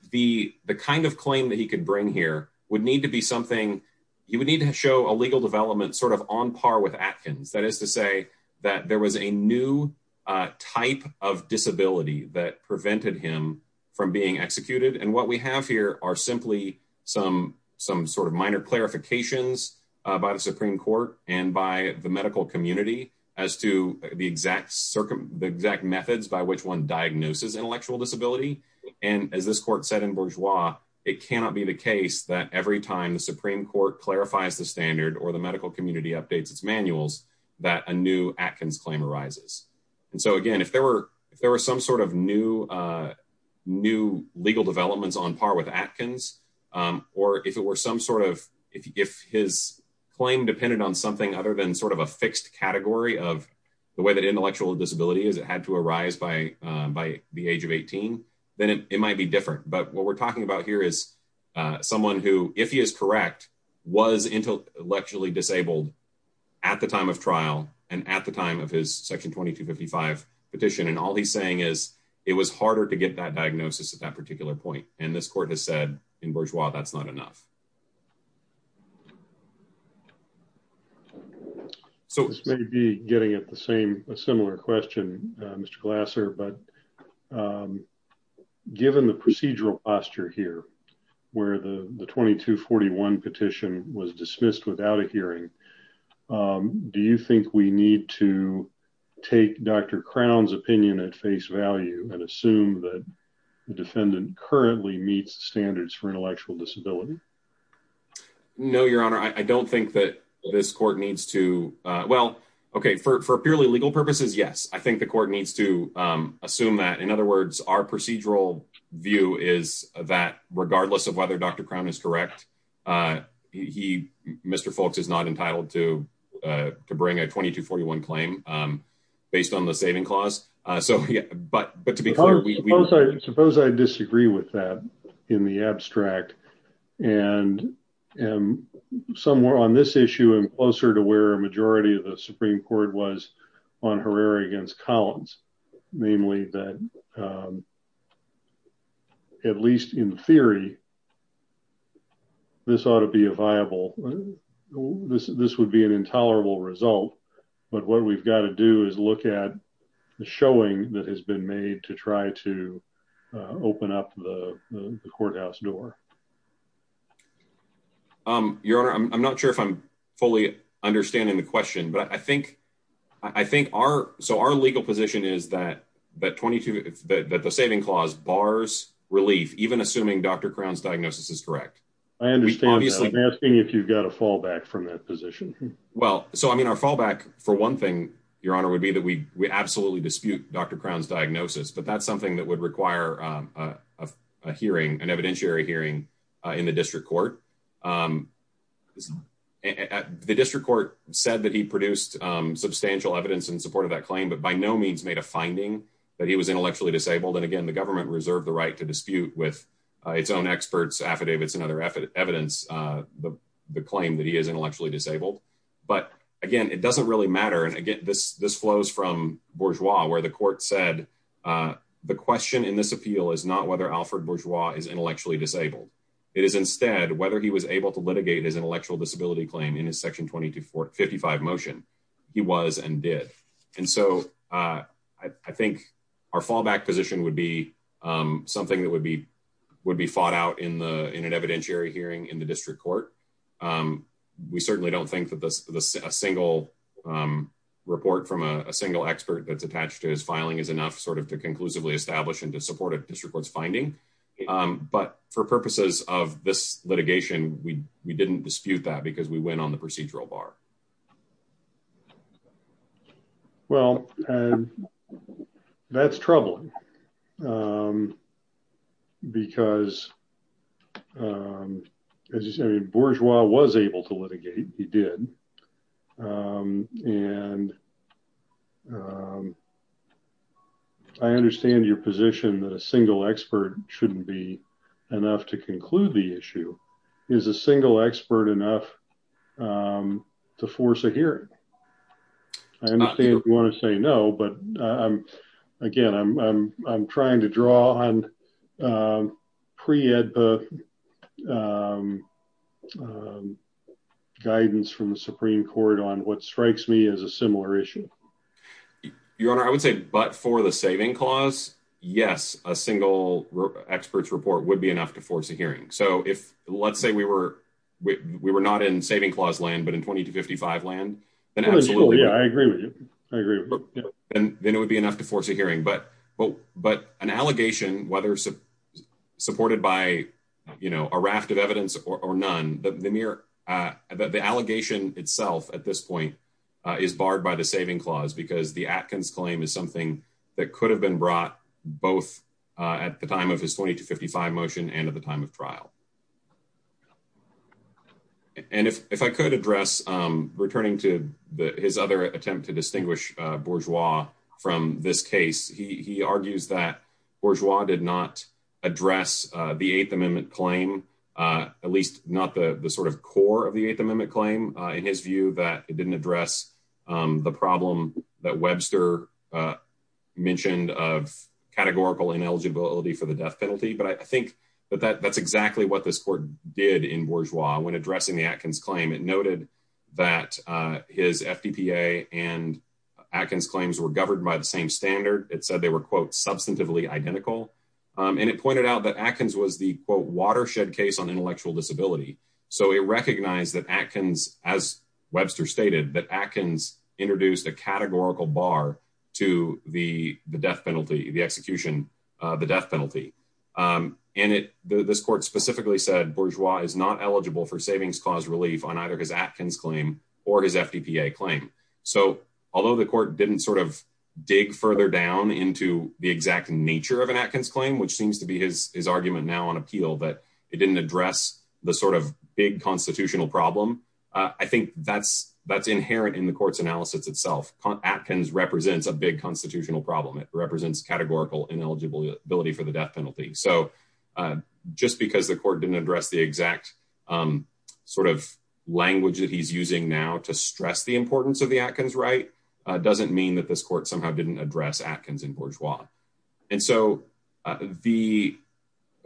kind of claim that he could bring here would need to be something... You would need to show a legal development sort of on par with Atkins. That is to say that there was a new type of disability that prevented him from being executed. And what we have here are simply some sort of minor clarifications by the Supreme Court and by the medical community as to the exact methods by which one diagnoses intellectual disability. And as this court said in Bourgeois, it cannot be the case that every time the Supreme Court clarifies the standard or the medical community updates its manuals, that a new Atkins claim arises. And so, again, if there were some sort of new legal developments on par with Atkins, or if it were some sort of... If his claim depended on something other than sort of a fixed category of the way that intellectual disability had to arise by the age of 18, then it might be different. But what we're talking about here is someone who, if he is correct, was intellectually disabled at the time of trial and at the time of his Section 2255 petition. And all he's saying is it was harder to get that diagnosis at that particular point. And this court has said in Bourgeois that's not enough. This may be getting at a similar question, Mr. Glasser, but given the procedural posture here where the 2241 petition was dismissed without a hearing, do you think we need to take Dr. Crown's opinion at face value and assume that the defendant currently meets standards for intellectual disability? No, Your Honor, I don't think that this court needs to... Well, okay, for purely legal purposes, yes, I think the court needs to assume that. In other words, our procedural view is that regardless of whether Dr. Crown is correct, Mr. Foulkes is not entitled to bring a 2241 claim based on the saving clause. But to be clear, we... Suppose I disagree with that in the abstract. And somewhere on this issue and closer to where a majority of the Supreme Court was on Herrera against Collins, namely that, at least in theory, this ought to be a viable... But what we've got to do is look at the showing that has been made to try to open up the courthouse door. Your Honor, I'm not sure if I'm fully understanding the question, but I think our legal position is that the saving clause bars relief, even assuming Dr. Crown's diagnosis is correct. I understand that. Obviously, I'm asking if you've got a fallback from that position. Well, so, I mean, our fallback for one thing, Your Honor, would be that we absolutely dispute Dr. Crown's diagnosis. But that's something that would require a hearing, an evidentiary hearing in the district court. The district court said that he produced substantial evidence in support of that claim, but by no means made a finding that he was intellectually disabled. And, again, the government reserved the right to dispute with its own experts, affidavits, and other evidence the claim that he is intellectually disabled. But, again, it doesn't really matter. And, again, this flows from Bourgeois, where the court said the question in this appeal is not whether Alfred Bourgeois is intellectually disabled. It is instead whether he was able to litigate his intellectual disability claim in his Section 255 motion. He was and did. And so I think our fallback position would be something that would be fought out in an evidentiary hearing in the district court. We certainly don't think that a single report from a single expert that's attached to his filing is enough sort of to conclusively establish and to support a district court's finding. But for purposes of this litigation, we didn't dispute that because we went on the procedural bar. Well, that's troubling because, as you say, Bourgeois was able to litigate. He did. And I understand your position that a single expert shouldn't be enough to conclude the issue. Is a single expert enough to force a hearing? I understand if you want to say no, but, again, I'm trying to draw on pre-EDPA guidance from the Supreme Court on what strikes me as a similar issue. Your Honor, I would say but for the saving clause, yes, a single expert's report would be enough to force a hearing. So if let's say we were not in saving clause land but in 20 to 55 land, then absolutely. Yeah, I agree with you. I agree. Then it would be enough to force a hearing. But an allegation, whether supported by a raft of evidence or none, the allegation itself at this point is barred by the saving clause because the Atkins claim is something that could have been brought both at the time of his 20 to 55 motion and at the time of trial. And if I could address, returning to his other attempt to distinguish Bourgeois from this case, he argues that Bourgeois did not address the Eighth Amendment claim, at least not the sort of core of the Eighth Amendment claim, in his view that it didn't address the problem that Webster mentioned of categorical ineligibility for the death penalty. But I think that that's exactly what this court did in Bourgeois when addressing the Atkins claim. It noted that his FDPA and Atkins claims were governed by the same standard. It said they were, quote, substantively identical. And it pointed out that Atkins was the, quote, watershed case on intellectual disability. So it recognized that Atkins, as Webster stated, that Atkins introduced a categorical bar to the death penalty, the execution of the death penalty. And this court specifically said Bourgeois is not eligible for savings clause relief on either his Atkins claim or his FDPA claim. So although the court didn't sort of dig further down into the exact nature of an Atkins claim, which seems to be his argument now on appeal that it didn't address the sort of big constitutional problem, I think that's inherent in the court's analysis itself. Atkins represents a big constitutional problem. It represents categorical ineligibility for the death penalty. So just because the court didn't address the exact sort of language that he's using now to stress the importance of the Atkins right doesn't mean that this court somehow didn't address Atkins in Bourgeois. And so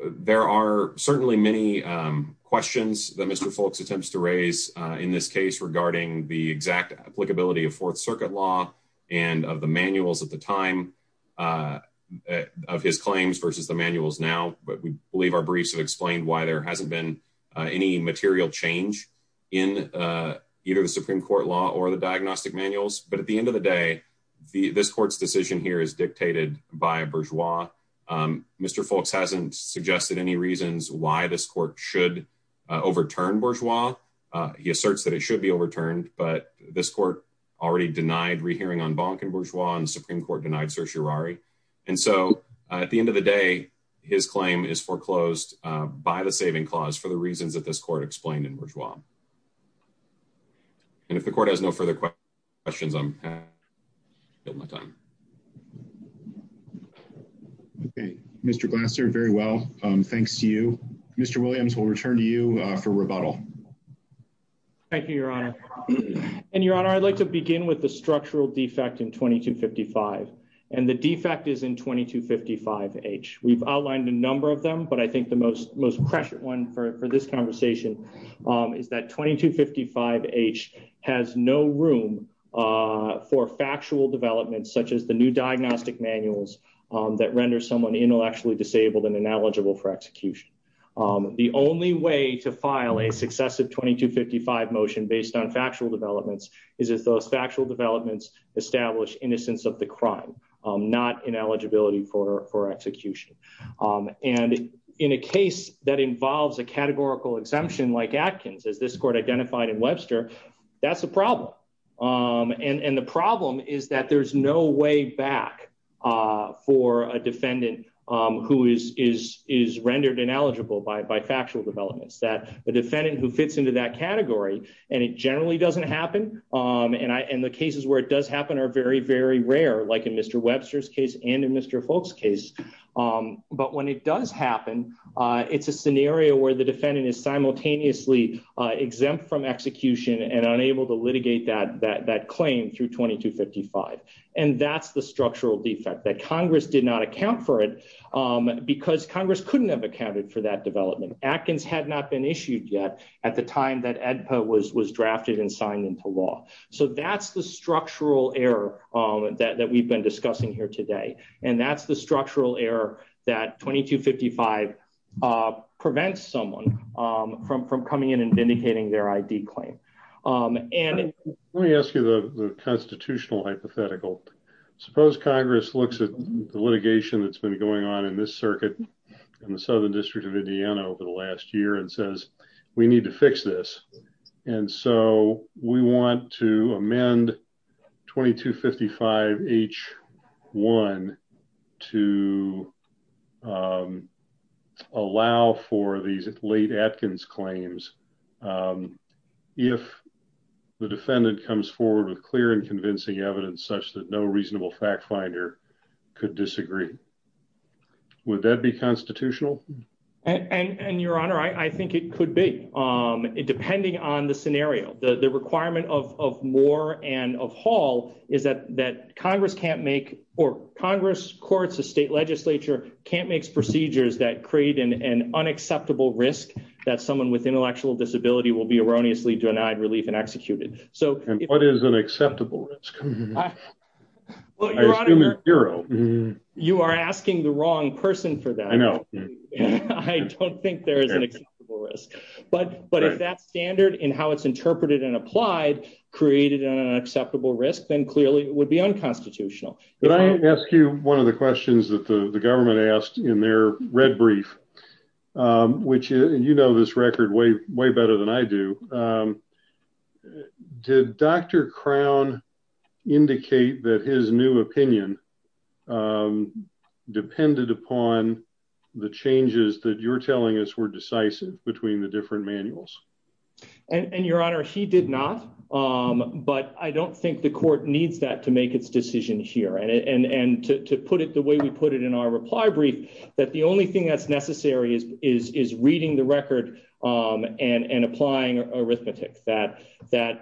there are certainly many questions that Mr. Foulkes attempts to raise in this case regarding the exact applicability of Fourth Circuit law and of the manuals at the time of his claims versus the manuals now. But we believe our briefs have explained why there hasn't been any material change in either the Supreme Court law or the diagnostic manuals. But at the end of the day, this court's decision here is dictated by Bourgeois. Mr. Foulkes hasn't suggested any reasons why this court should overturn Bourgeois. He asserts that it should be overturned, but this court already denied rehearing on Bonk and Bourgeois and the Supreme Court denied certiorari. And so at the end of the day, his claim is foreclosed by the saving clause for the reasons that this court explained in Bourgeois. And if the court has no further questions, I'm going to kill my time. OK, Mr. Glasser, very well. Thanks to you, Mr. Williams. We'll return to you for rebuttal. Thank you, Your Honor. And, Your Honor, I'd like to begin with the structural defect in 2255 and the defect is in 2255H. We've outlined a number of them, but I think the most most prescient one for this conversation is that 2255H has no room for factual developments such as the new diagnostic manuals that render someone intellectually disabled and ineligible for execution. The only way to file a successive 2255 motion based on factual developments is if those factual developments establish innocence of the crime, not ineligibility for execution. And in a case that involves a categorical exemption like Atkins, as this court identified in Webster, that's a problem. And the problem is that there's no way back for a defendant who is is is rendered ineligible by factual developments that the defendant who fits into that category. And it generally doesn't happen. And the cases where it does happen are very, very rare, like in Mr. Webster's case and in Mr. Folk's case. But when it does happen, it's a scenario where the defendant is simultaneously exempt from execution and unable to litigate that that that claim through 2255. And that's the structural defect that Congress did not account for it because Congress couldn't have accounted for that development. Atkins had not been issued yet at the time that AEDPA was was drafted and signed into law. So that's the structural error that we've been discussing here today. And that's the structural error that 2255 prevents someone from from coming in and vindicating their ID claim. Let me ask you the constitutional hypothetical. Suppose Congress looks at the litigation that's been going on in this circuit in the Southern District of Indiana over the last year and says, we need to fix this. And so we want to amend 2255 H1 to allow for these late Atkins claims if the defendant comes forward with clear and convincing evidence such that no reasonable fact finder could disagree. Would that be constitutional? And Your Honor, I think it could be. Depending on the scenario, the requirement of Moore and of Hall is that that Congress can't make or Congress courts, the state legislature can't make procedures that create an unacceptable risk that someone with intellectual disability will be erroneously denied relief and executed. And what is an acceptable risk? I assume it's zero. You are asking the wrong person for that. I know. I don't think there is an acceptable risk. But if that standard in how it's interpreted and applied created an acceptable risk, then clearly it would be unconstitutional. But I ask you one of the questions that the government asked in their red brief, which you know this record way, way better than I do. Did Dr. Crown indicate that his new opinion depended upon the changes that you're telling us were decisive between the different manuals. And Your Honor, he did not. But I don't think the court needs that to make its decision here. And to put it the way we put it in our reply brief, that the only thing that's necessary is reading the record and applying arithmetic. That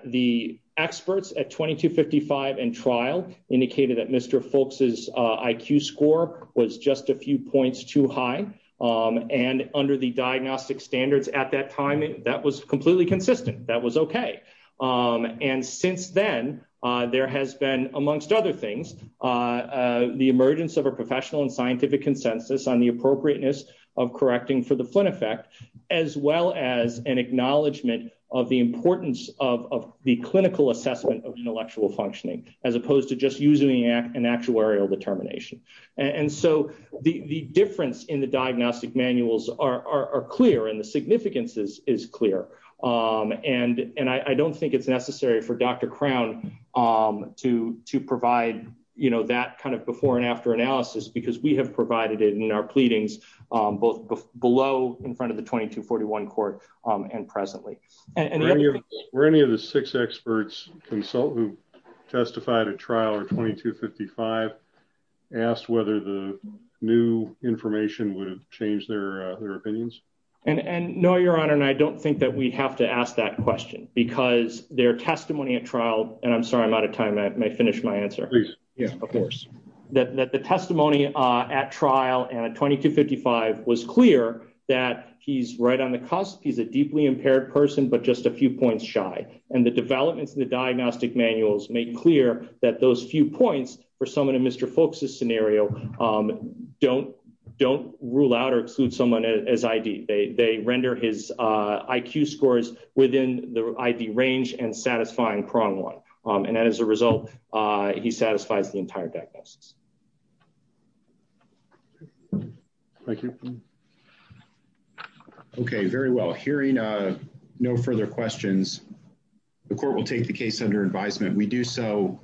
the experts at 2255 and trial indicated that Mr. Foulkes' IQ score was just a few points too high. And under the diagnostic standards at that time, that was completely consistent. That was okay. And since then, there has been, amongst other things, the emergence of a professional and scientific consensus on the appropriateness of correcting for the Flynn effect, as well as an acknowledgement of the importance of the clinical assessment of intellectual functioning, as opposed to just using an actuarial determination. And so the difference in the diagnostic manuals are clear and the significance is clear. And I don't think it's necessary for Dr. Crown to provide that kind of before and after analysis, because we have provided it in our pleadings, both below in front of the 2241 court and presently. Were any of the six experts consult who testified at trial or 2255 asked whether the new information would have changed their opinions? And no, Your Honor, and I don't think that we have to ask that question because their testimony at trial, and I'm sorry, I'm out of time. May I finish my answer? Yeah, of course. That the testimony at trial and at 2255 was clear that he's right on the cusp. He's a deeply impaired person, but just a few points shy. And the developments in the diagnostic manuals make clear that those few points for someone in Mr. Folks' scenario don't rule out or exclude someone as ID. They render his IQ scores within the ID range and satisfying prong one. And as a result, he satisfies the entire diagnosis. Thank you. OK, very well. Hearing no further questions, the court will take the case under advisement. We do so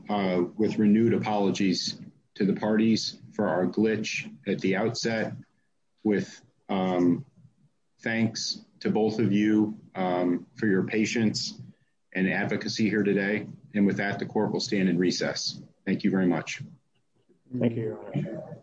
with renewed apologies to the parties for our glitch at the outset with thanks to both of you for your patience and advocacy here today. And with that, the court will stand in recess. Thank you very much. Thank you.